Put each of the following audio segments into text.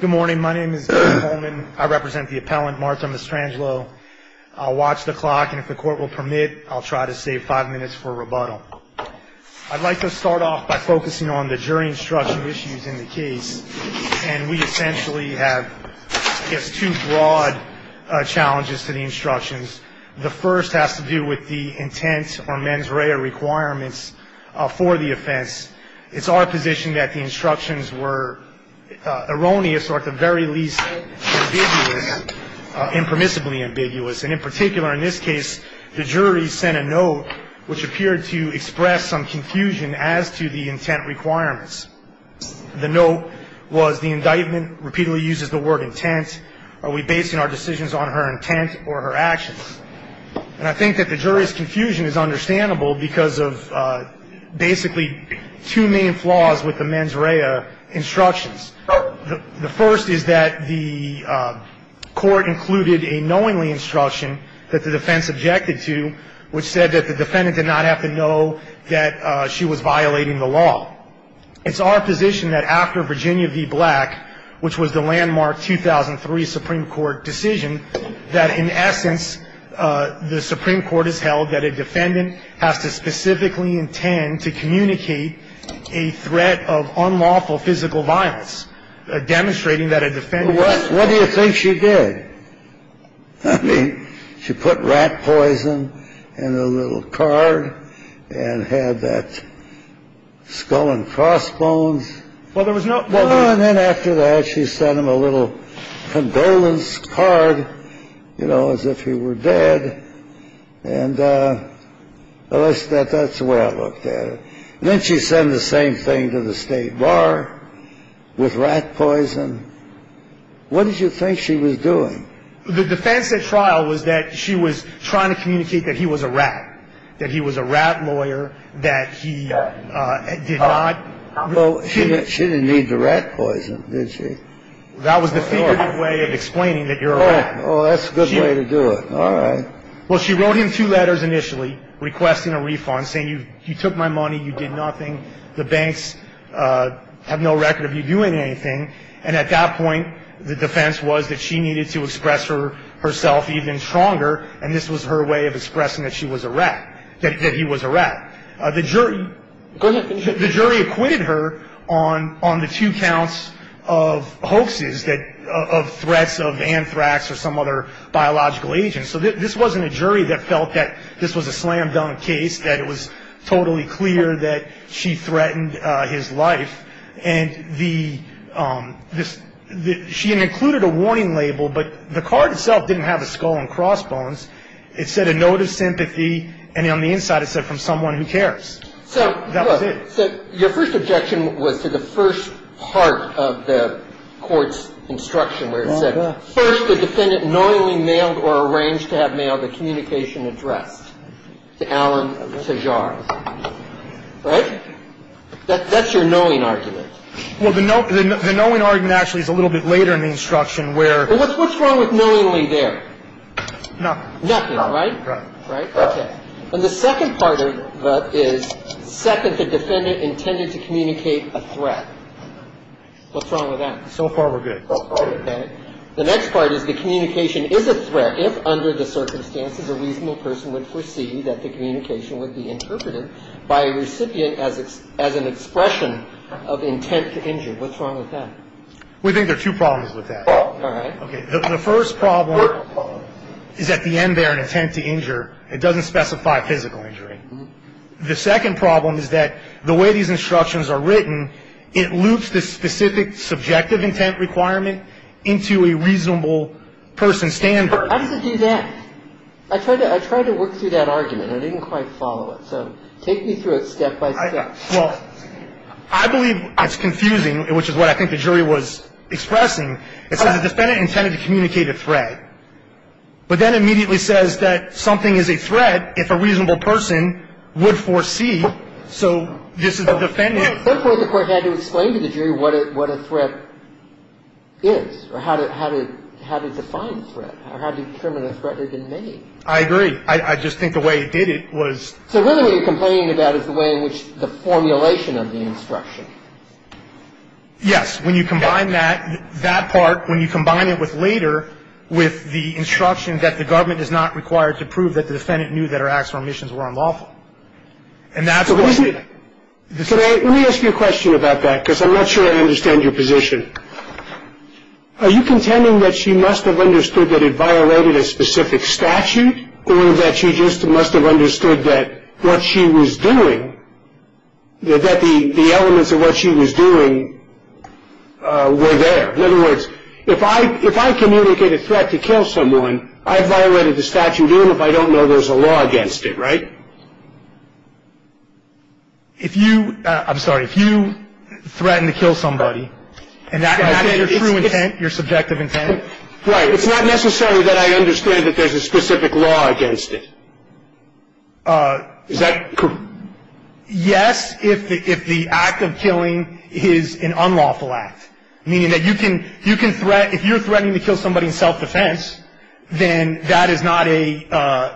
Good morning. My name is David Coleman. I represent the appellant, Marta Mastrangelo. I'll watch the clock, and if the court will permit, I'll try to save five minutes for rebuttal. I'd like to start off by focusing on the jury instruction issues in the case, and we essentially have, I guess, two broad challenges to the instructions. The first has to do with the intent or mens rea requirements for the offense. It's our position that the instructions were erroneous or at the very least ambiguous, impermissibly ambiguous, and in particular in this case, the jury sent a note which appeared to express some confusion as to the intent requirements. The note was the indictment repeatedly uses the word intent. Are we basing our decisions on her intent or her actions? And I think that the jury's confusion is understandable because of basically two main flaws with the mens rea instructions. The first is that the court included a knowingly instruction that the defense objected to, which said that the defendant did not have to know that she was violating the law. It's our position that after Virginia v. Black, which was the landmark 2003 Supreme Court decision, that in essence, the Supreme Court has held that a defendant has to specifically intend to communicate a threat of unlawful physical violence, demonstrating that a defendant was. What do you think she did? I mean, she put rat poison in a little card and had that skull and crossbones. Well, there was no. Well, and then after that, she sent him a little condolence card, you know, as if he were dead. And that's the way I looked at it. And then she sent the same thing to the State Bar with rat poison. What did you think she was doing? The defense at trial was that she was trying to communicate that he was a rat, that he was a rat lawyer, that he did not. Well, she didn't need the rat poison, did she? That was the figurative way of explaining that you're a rat. Oh, that's a good way to do it. All right. Well, she wrote him two letters initially requesting a refund, saying you took my money, you did nothing. The banks have no record of you doing anything. And at that point, the defense was that she needed to express herself even stronger, and this was her way of expressing that she was a rat, that he was a rat. The jury acquitted her on the two counts of hoaxes, of threats of anthrax or some other biological agent. So this wasn't a jury that felt that this was a slam-dunk case, that it was totally clear that she threatened his life. And she included a warning label, but the card itself didn't have a skull and crossbones. It said a note of sympathy, and on the inside it said, from someone who cares. That was it. So your first objection was to the first part of the court's instruction, where it said, first, the defendant knowingly mailed or arranged to have mailed a communication address to Alan Tajar. Right? That's your knowing argument. Well, the knowing argument actually is a little bit later in the instruction, where... What's wrong with knowingly there? Nothing. Nothing, right? Right. Right? Okay. And the second part of that is, second, the defendant intended to communicate a threat. What's wrong with that? So far, we're good. Okay. The next part is the communication is a threat if, under the circumstances, a reasonable person would foresee that the communication would be interpreted by a recipient as an expression of intent to injure. What's wrong with that? We think there are two problems with that. All right. Okay. The first problem is, at the end there, an intent to injure. It doesn't specify physical injury. The second problem is that the way these instructions are written, it loops the specific subjective intent requirement into a reasonable person's standard. How does it do that? I tried to work through that argument. I didn't quite follow it. So take me through it step by step. All right. Well, I believe it's confusing, which is what I think the jury was expressing. It says the defendant intended to communicate a threat. But that immediately says that something is a threat if a reasonable person would foresee. So this is the defendant. Therefore, the court had to explain to the jury what a threat is, or how to define a threat, or how to determine a threat had been made. I agree. I just think the way it did it was. So really what you're complaining about is the way in which the formulation of the instruction. Yes. When you combine that, that part, when you combine it with later, with the instruction that the government is not required to prove that the defendant knew that her acts or omissions were unlawful. And that's what the. Let me ask you a question about that, because I'm not sure I understand your position. Are you contending that she must have understood that it violated a specific statute, or that she just must have understood that what she was doing, that the elements of what she was doing were there? In other words, if I communicate a threat to kill someone, I violated the statute even if I don't know there's a law against it, right? If you. I'm sorry. If you threaten to kill somebody and that is your true intent, your subjective intent. Right. It's not necessary that I understand that there's a specific law against it. Is that. Yes. If the act of killing is an unlawful act, meaning that you can you can threat. If you're threatening to kill somebody in self-defense, then that is not a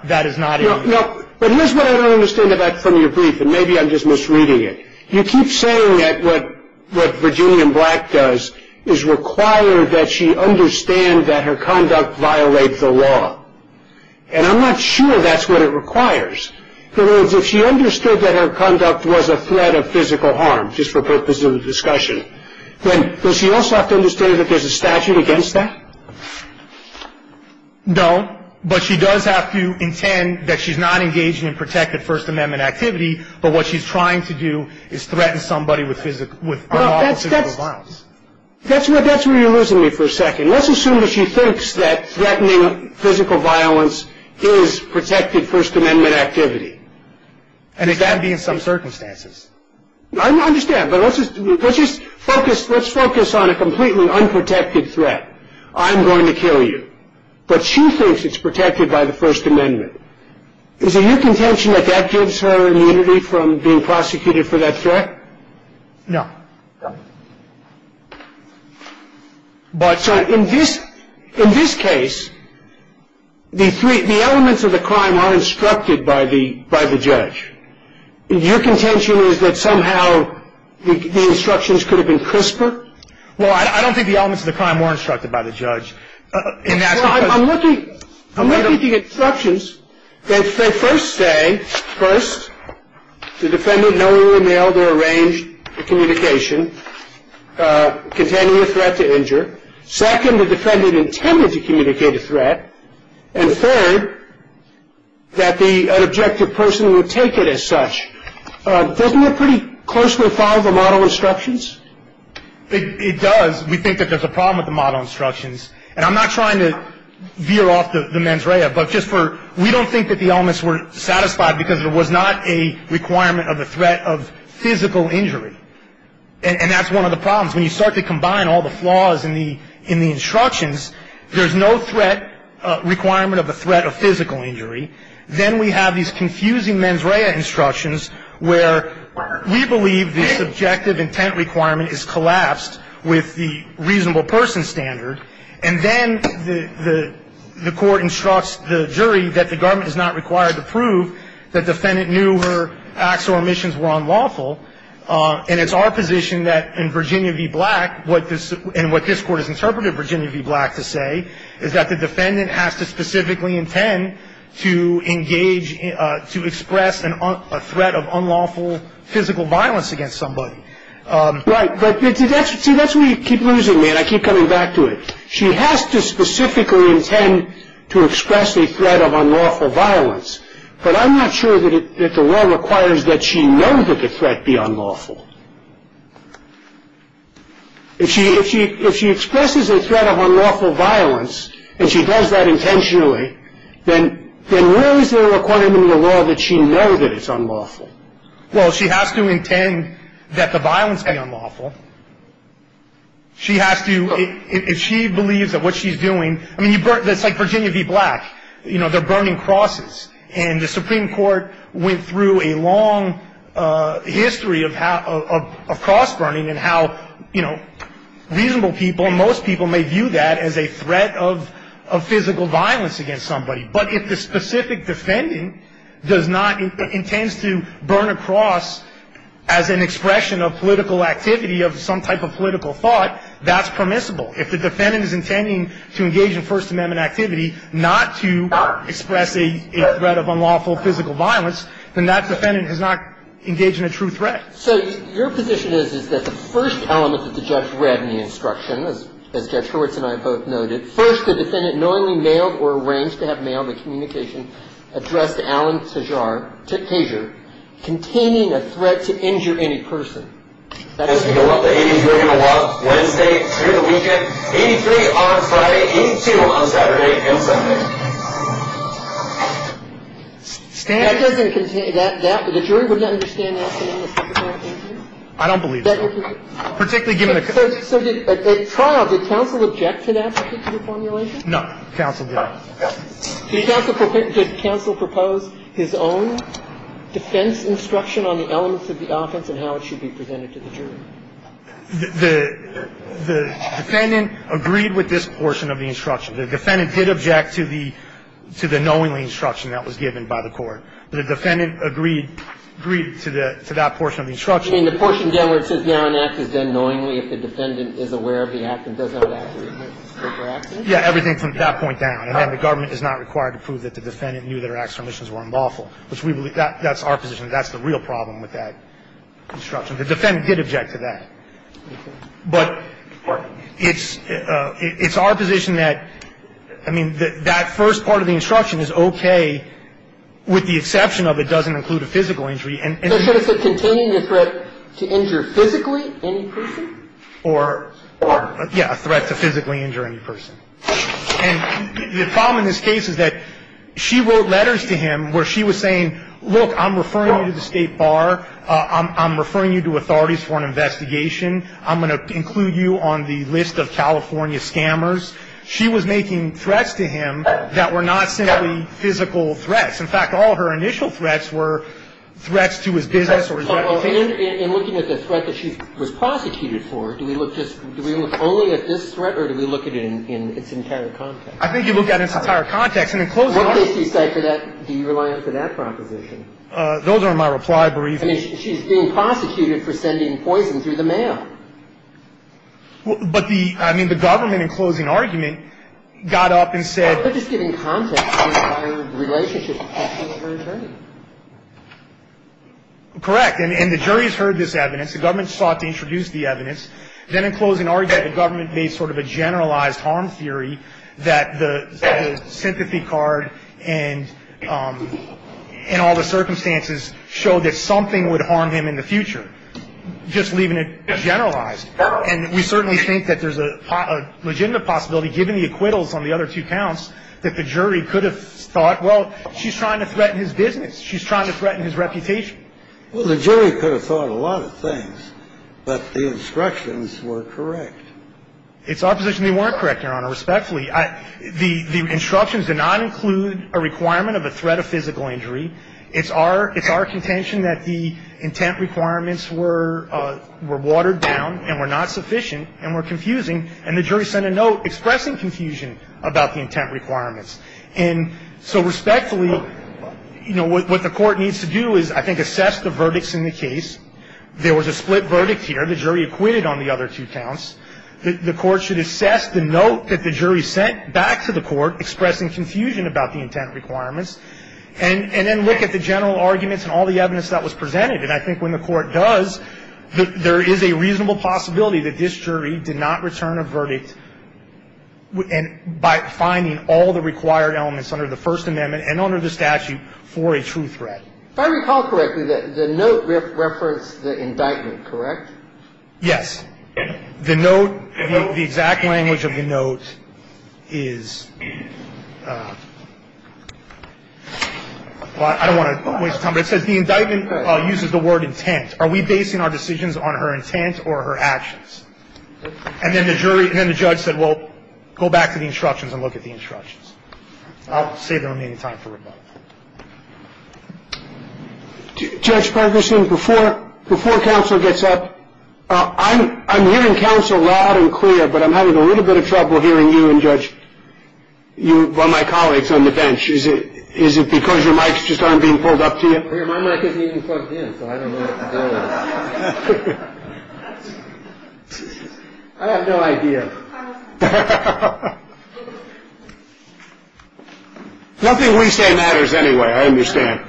that is not. No, but here's what I don't understand about from your brief. And maybe I'm just misreading it. You keep saying that what what Virginia Black does is require that she understand that her conduct violates the law. And I'm not sure that's what it requires. If she understood that her conduct was a threat of physical harm, just for purposes of the discussion. Does she also have to understand that there's a statute against that? No, but she does have to intend that she's not engaging in protected First Amendment activity. But what she's trying to do is threaten somebody with physical violence. That's what that's where you're losing me for a second. Let's assume that she thinks that threatening physical violence is protected First Amendment activity. And it can be in some circumstances. I understand. But let's just focus. Let's focus on a completely unprotected threat. I'm going to kill you. But she thinks it's protected by the First Amendment. Is it your contention that that gives her immunity from being prosecuted for that threat? No. But in this in this case, the three elements of the crime are instructed by the by the judge. Your contention is that somehow the instructions could have been crisper. Well, I don't think the elements of the crime were instructed by the judge. I'm looking at the instructions. They first say, first, the defendant knowingly mailed or arranged the communication containing a threat to injure. Second, the defendant intended to communicate a threat. And third, that the objective person would take it as such. Doesn't it pretty closely follow the model instructions? It does. We think that there's a problem with the model instructions. And I'm not trying to veer off the mens rea, but just for we don't think that the elements were satisfied because there was not a requirement of a threat of physical injury. And that's one of the problems. When you start to combine all the flaws in the instructions, there's no threat requirement of a threat of physical injury. Then we have these confusing mens rea instructions where we believe the subjective intent requirement is collapsed with the reasonable person standard. And then the court instructs the jury that the government is not required to prove that the defendant knew her acts or omissions were unlawful. And it's our position that in Virginia v. Black, and what this Court has interpreted Virginia v. Black to say, is that the defendant has to specifically intend to engage, to express a threat of unlawful physical violence against somebody. Right. But see, that's where you keep losing me, and I keep coming back to it. She has to specifically intend to express a threat of unlawful violence, but I'm not sure that the law requires that she know that the threat be unlawful. If she expresses a threat of unlawful violence and she does that intentionally, then where is there a requirement in the law that she know that it's unlawful? Well, she has to intend that the violence be unlawful. She has to, if she believes that what she's doing, I mean, that's like Virginia v. Black. You know, they're burning crosses. And the Supreme Court went through a long history of cross-burning and how, you know, reasonable people, and most people may view that as a threat of physical violence against somebody. But if the specific defendant does not, intends to burn a cross as an expression of political activity of some type of political thought, that's permissible. If the defendant is intending to engage in First Amendment activity not to express a threat of unlawful physical violence, then that defendant has not engaged in a true threat. So your position is, is that the first element that the judge read in the instruction, as Judge Hurwitz and I both noted, first the defendant knowingly mailed or arranged to have mailed a communication addressed to Alan Tejar, containing a threat to injure any person. That is to go up to 83 on Wednesday through the weekend, 83 on Friday, 82 on Saturday and Sunday. That doesn't contain, the jury wouldn't understand that statement. I don't believe so. Answer the question. Particularly given the case of the case. So at trial, did counsel object to that particular formulation? No. Counsel did not. Did counsel propose his own defense instruction on the elements of the offense and how it should be presented to the jury? The defendant agreed with this portion of the instruction. The defendant did object to the knowingly instruction that was given by the court. The defendant agreed to that portion of the instruction. You mean the portion down where it says now an act is done knowingly if the defendant is aware of the act and does not act to remove it? Yeah, everything from that point down. And the government is not required to prove that the defendant knew that her actions were unlawful. That's our position. That's the real problem with that instruction. The defendant did object to that. But it's our position that, I mean, that first part of the instruction is okay with the exception of it doesn't include a physical injury. So should it say containing the threat to injure physically any person? Or, yeah, a threat to physically injure any person. And the problem in this case is that she wrote letters to him where she was saying, look, I'm referring you to the State Bar. I'm referring you to authorities for an investigation. I'm going to include you on the list of California scammers. She was making threats to him that were not simply physical threats. In fact, all of her initial threats were threats to his business or his reputation. In looking at the threat that she was prosecuted for, do we look just do we look only at this threat or do we look at it in its entire context? I think you look at its entire context. And in closing arguments... What does she say for that? Do you rely on her for that proposition? Those are my reply briefs. I mean, she's being prosecuted for sending poison through the mail. But the – I mean, the government, in closing argument, got up and said... Well, they're just giving context to her relationship with her attorney. Correct. And the jury has heard this evidence. The government sought to introduce the evidence. Then, in closing argument, the government made sort of a generalized harm theory that the sympathy card and all the circumstances show that something would harm him in the future, just leaving it generalized. And we certainly think that there's a legitimate possibility, given the acquittals on the other two counts, that the jury could have thought, well, she's trying to threaten his business. She's trying to threaten his reputation. Well, the jury could have thought a lot of things, but the instructions were correct. It's our position they weren't correct, Your Honor, respectfully. The instructions did not include a requirement of a threat of physical injury. It's our contention that the intent requirements were watered down and were not sufficient and were confusing, and the jury sent a note expressing confusion about the intent requirements. And so respectfully, you know, what the court needs to do is, I think, assess the verdicts in the case. There was a split verdict here. The jury acquitted on the other two counts. The court should assess the note that the jury sent back to the court expressing confusion about the intent requirements and then look at the general arguments and all the evidence that was presented. And I think when the court does, there is a reasonable possibility that this jury did not return a verdict by finding all the required elements under the First Amendment and under the statute for a true threat. If I recall correctly, the note referenced the indictment, correct? Yes. The note, the exact language of the note is, well, I don't want to waste time, but it says the indictment uses the word intent. Are we basing our decisions on her intent or her actions? And then the jury, and then the judge said, well, go back to the instructions and look at the instructions. I'll save the remaining time for rebuttal. Judge Ferguson, before counsel gets up, I'm hearing counsel loud and clear, but I'm having a little bit of trouble hearing you and, Judge, my colleagues on the bench. Is it because your mics just aren't being pulled up to you? My mic isn't even plugged in, so I don't know what to do. I have no idea. Nothing we say matters anyway, I understand.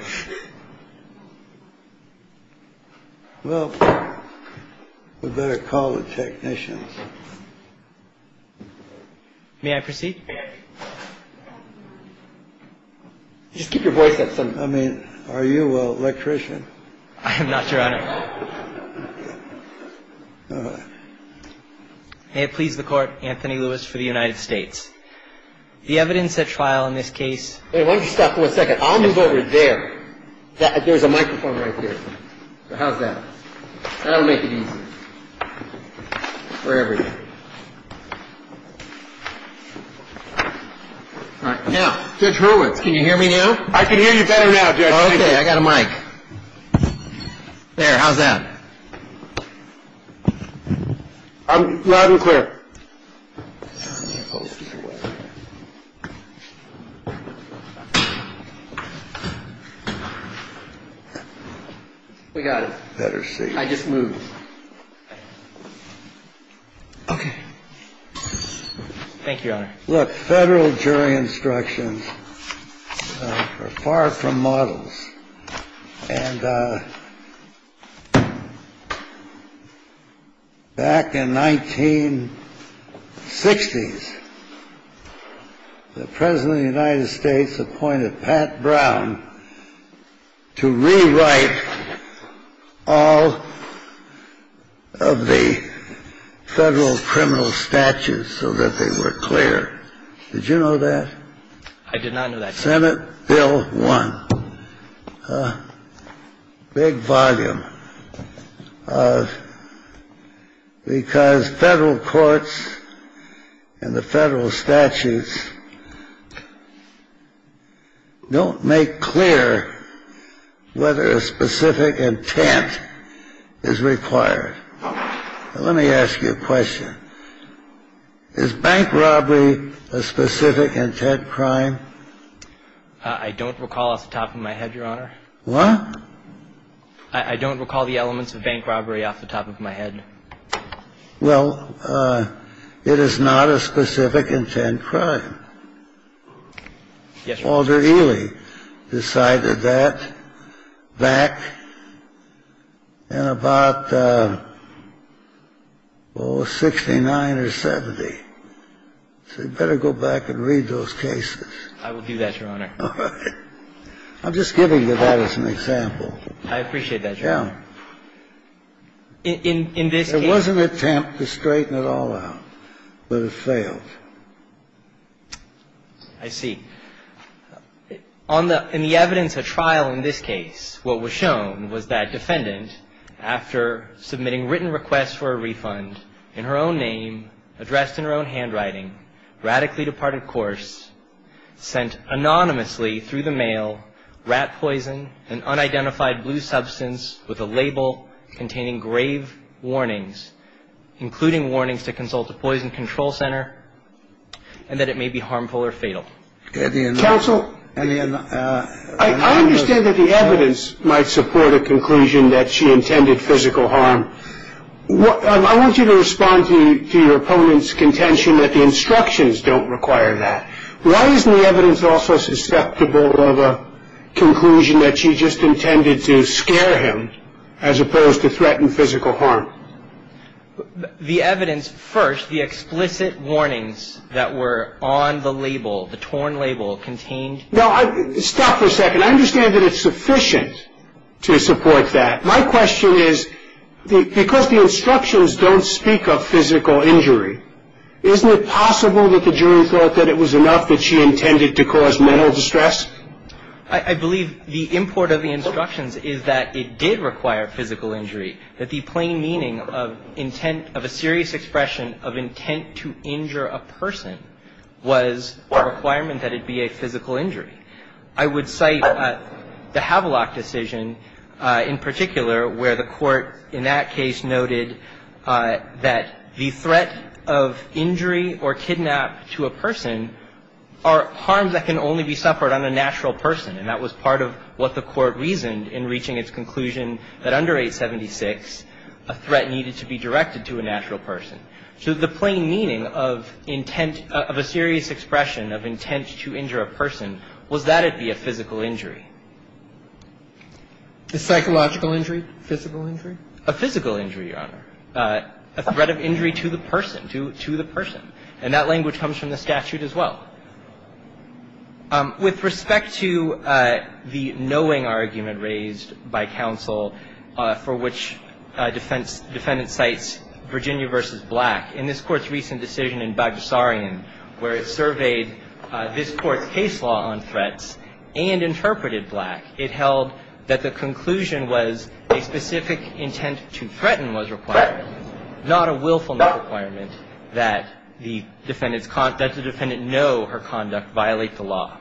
Well, we'd better call the technicians. May I proceed? Just keep your voice up. I mean, are you an electrician? I am not, Your Honor. All right. May it please the Court, Anthony Lewis for the United States. The evidence at trial in this case. Why don't you stop for a second? I'll move over there. There's a microphone right there. How's that? That'll make it easier. Wherever you are. All right. Now, Judge Hurwitz, can you hear me now? I can hear you better now, Judge. Okay. I got a mic. There, how's that? Loud and clear. We got it. Better see. Okay. Thank you, Your Honor. Look, federal jury instructions are far from models. And back in 1960s, the President of the United States appointed Pat Brown to rewrite all of the federal criminal statutes so that they were clear. Did you know that? I did not know that. Senate Bill 1. Big volume. Because federal courts and the federal statutes don't make clear whether a specific intent is required. Let me ask you a question. Is bank robbery a specific intent crime? I don't recall off the top of my head, Your Honor. What? I don't recall the elements of bank robbery off the top of my head. Well, it is not a specific intent crime. Yes, Your Honor. Walter Ely decided that back in about, oh, 69 or 70. So you better go back and read those cases. I will do that, Your Honor. All right. I'm just giving you that as an example. Yeah. In this case ---- It was an attempt to straighten it all out, but it failed. I see. In the evidence at trial in this case, what was shown was that defendant, after submitting written requests for a refund in her own name, addressed in her own handwriting, radically departed course, sent anonymously through the mail rat poison, an unidentified blue substance with a label containing grave warnings, including warnings to consult a poison control center, and that it may be harmful or fatal. Counsel, I understand that the evidence might support a conclusion that she intended physical harm. I want you to respond to your opponent's contention that the instructions don't require that. Why isn't the evidence also susceptible of a conclusion that she just intended to scare him as opposed to threaten physical harm? The evidence, first, the explicit warnings that were on the label, the torn label, contained ---- No, stop for a second. I understand that it's sufficient to support that. My question is, because the instructions don't speak of physical injury, isn't it possible that the jury thought that it was enough that she intended to cause mental distress? I believe the import of the instructions is that it did require physical injury, that the plain meaning of intent of a serious expression of intent to injure a person was a requirement that it be a physical injury. I would cite the Havelock decision in particular, where the Court in that case noted that the threat of injury or kidnap to a person are harms that can only be suffered on a natural person. And that was part of what the Court reasoned in reaching its conclusion that under 876, a threat needed to be directed to a natural person. So the plain meaning of intent of a serious expression of intent to injure a person was that it be a physical injury. Is psychological injury physical injury? A physical injury, Your Honor. A threat of injury to the person, to the person. And that language comes from the statute as well. With respect to the knowing argument raised by counsel for which defendant cites Virginia v. Black, in this Court's recent decision in Bagdasarian, where it surveyed this Court's case law on threats and interpreted Black, it held that the conclusion was a specific intent to threaten was required, not a willfulness requirement that the defendant know her conduct violate the law.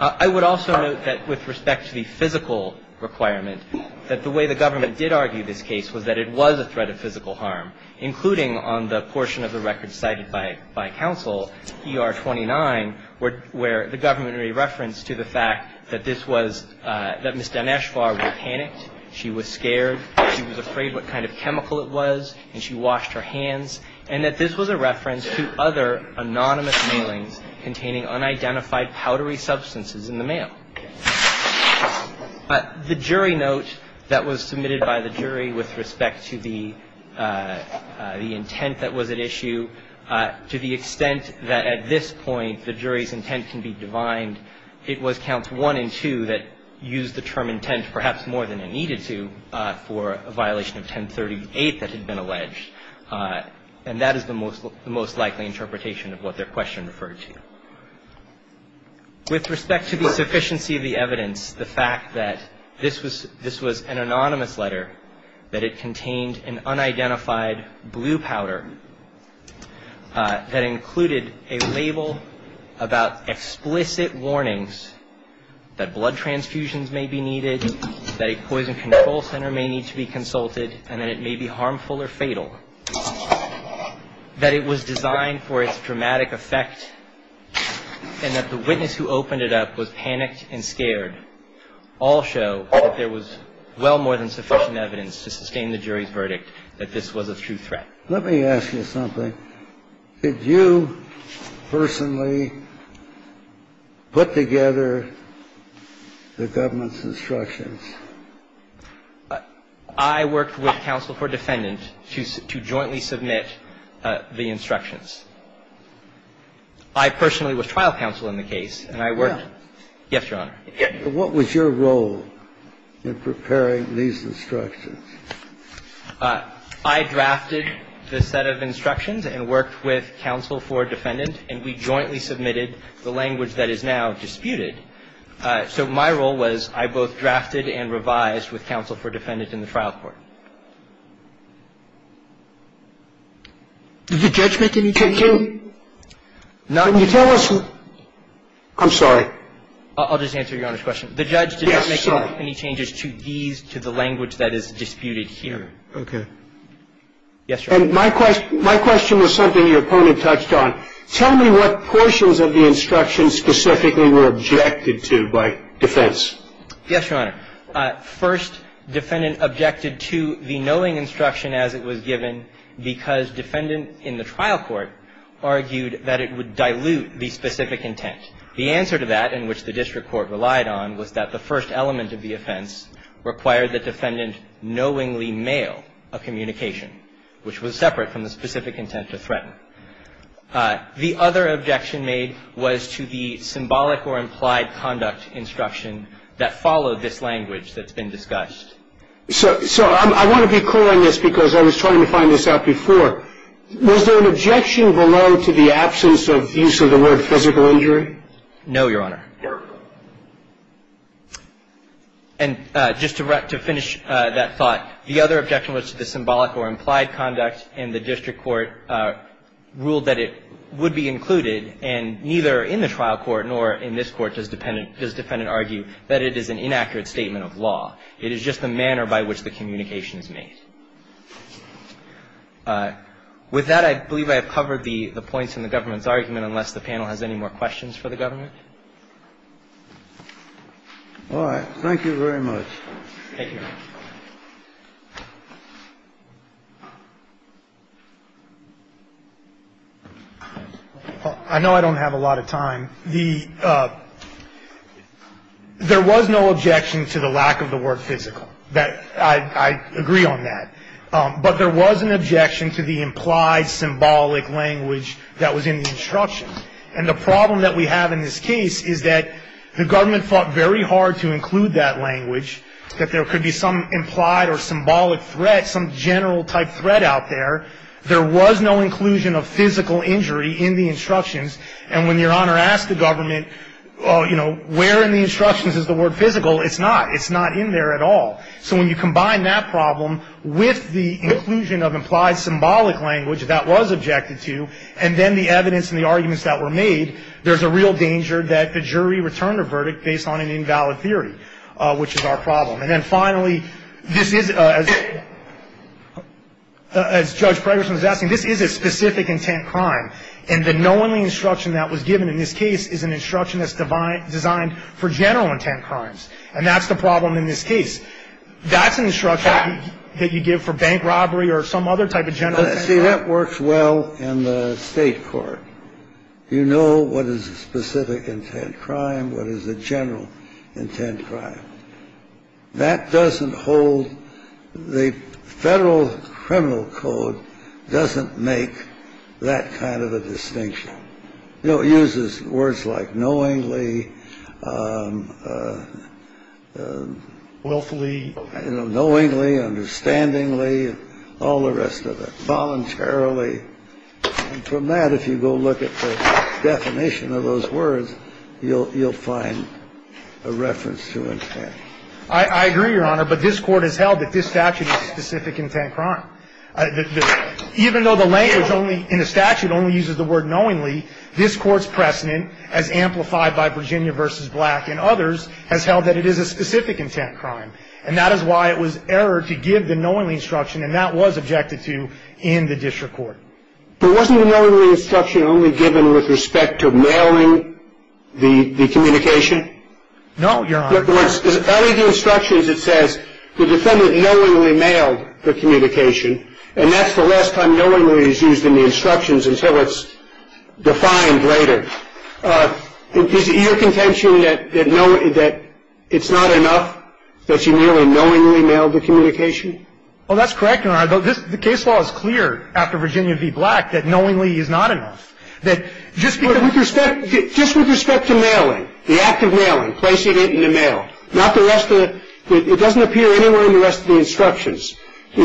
I would also note that with respect to the physical requirement, that the way the government did argue this case was that it was a threat of physical harm, including on the portion of the record cited by counsel, ER 29, where the government re-referenced to the fact that this was, that Ms. Daneshvar was panicked, she was scared, she was afraid what kind of chemical it was, and she washed her hands, and that this was a reference to other anonymous mailings containing unidentified powdery substances in the mail. The jury note that was submitted by the jury with respect to the intent that was at issue, to the extent that at this point the jury's intent can be divined, it was Counts 1 and 2 that used the term intent perhaps more than it needed to for a violation of 1038 that had been alleged, and that is the most likely interpretation of what their question referred to. With respect to the sufficiency of the evidence, the fact that this was an anonymous letter, that it contained an unidentified blue powder that included a label about explicit warnings that blood transfusions may be needed, that a poison control center may need to be consulted, and that it may be harmful or fatal, that it was designed for its dramatic effect, and that the witness who opened it up was panicked and scared, all show that there was well more than sufficient evidence to sustain the jury's verdict that this was a true threat. Let me ask you something. Did you personally put together the government's instructions? I worked with counsel for defendant to jointly submit the instructions. I personally was trial counsel in the case, and I worked. Yeah. Yes, Your Honor. What was your role in preparing these instructions? I drafted the set of instructions and worked with counsel for defendant, and we jointly submitted the language that is now disputed. So my role was I both drafted and revised with counsel for defendant in the trial court. Did the judge make any changes? Can you tell us? I'm sorry. I'll just answer Your Honor's question. The judge did not make any changes to these, to the language that is disputed. Okay. Yes, Your Honor. And my question was something your opponent touched on. Tell me what portions of the instructions specifically were objected to by defense. Yes, Your Honor. First, defendant objected to the knowing instruction as it was given because defendant in the trial court argued that it would dilute the specific intent. The answer to that in which the district court relied on was that the first element of the offense required the defendant knowingly mail a communication, which was separate from the specific intent to threaten. The other objection made was to the symbolic or implied conduct instruction that followed this language that's been discussed. So I want to be clear on this because I was trying to find this out before. Was there an objection below to the absence of use of the word physical injury? No, Your Honor. And just to finish that thought, the other objection was to the symbolic or implied conduct and the district court ruled that it would be included, and neither in the trial court nor in this court does defendant argue that it is an inaccurate statement of law. It is just the manner by which the communication is made. With that, I believe I have covered the points in the government's argument, unless the panel has any more questions for the government. All right. Thank you very much. Thank you, Your Honor. I know I don't have a lot of time. The – there was no objection to the lack of the word physical. I agree on that. But there was an objection to the implied symbolic language that was in the instruction. And the problem that we have in this case is that the government fought very hard to include that language, that there could be some implied or symbolic threat, some general-type threat out there. There was no inclusion of physical injury in the instructions. And when Your Honor asked the government, you know, where in the instructions is the word physical, it's not. It's not in there at all. So when you combine that problem with the inclusion of implied symbolic language, that was objected to, and then the evidence and the arguments that were made, there's a real danger that the jury returned a verdict based on an invalid theory, which is our problem. And then finally, this is, as Judge Preggerson was asking, this is a specific intent crime. And the knowingly instruction that was given in this case is an instruction that's designed for general intent crimes. And that's the problem in this case. That's an instruction that you give for bank robbery or some other type of general intent crime. But, see, that works well in the State court. You know what is a specific intent crime, what is a general intent crime. That doesn't hold the Federal Criminal Code doesn't make that kind of a distinction. You know, it uses words like knowingly. Willfully. Knowingly, understandingly, all the rest of it. Voluntarily. And from that, if you go look at the definition of those words, you'll find a reference to intent. I agree, Your Honor. But this Court has held that this statute is a specific intent crime. Even though the language only in the statute only uses the word knowingly, this Court's precedent, as amplified by Virginia v. Black and others, has held that it is a specific intent crime. And that is why it was errored to give the knowingly instruction. And that was objected to in the district court. But wasn't the knowingly instruction only given with respect to mailing the communication? No, Your Honor. In other words, out of the instructions it says the defendant knowingly mailed the communication. And that's the last time knowingly is used in the instructions until it's defined later. Is it your contention that it's not enough that you merely knowingly mailed the communication? Well, that's correct, Your Honor. The case law is clear after Virginia v. Black that knowingly is not enough. That just because we respect the act of mailing, placing it in the mail, not the rest of it. Is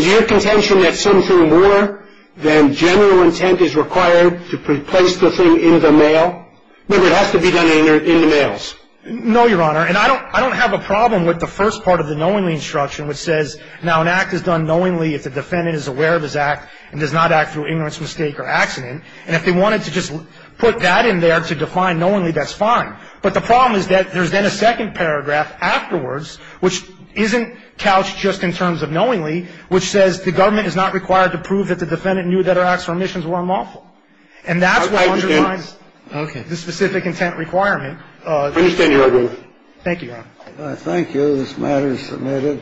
it your contention that something more than general intent is required to place the thing in the mail? Remember, it has to be done in the mails. No, Your Honor. And I don't have a problem with the first part of the knowingly instruction which says, now an act is done knowingly if the defendant is aware of his act and does not act through ignorance, mistake or accident. And if they wanted to just put that in there to define knowingly, that's fine. But the problem is that there's then a second paragraph afterwards which isn't couched in the knowingly instruction. It's just in terms of knowingly, which says the government is not required to prove that the defendant knew that her acts or omissions were unlawful. And that's what underlines the specific intent requirement. I understand your argument. Thank you, Your Honor. Thank you. This matter is submitted.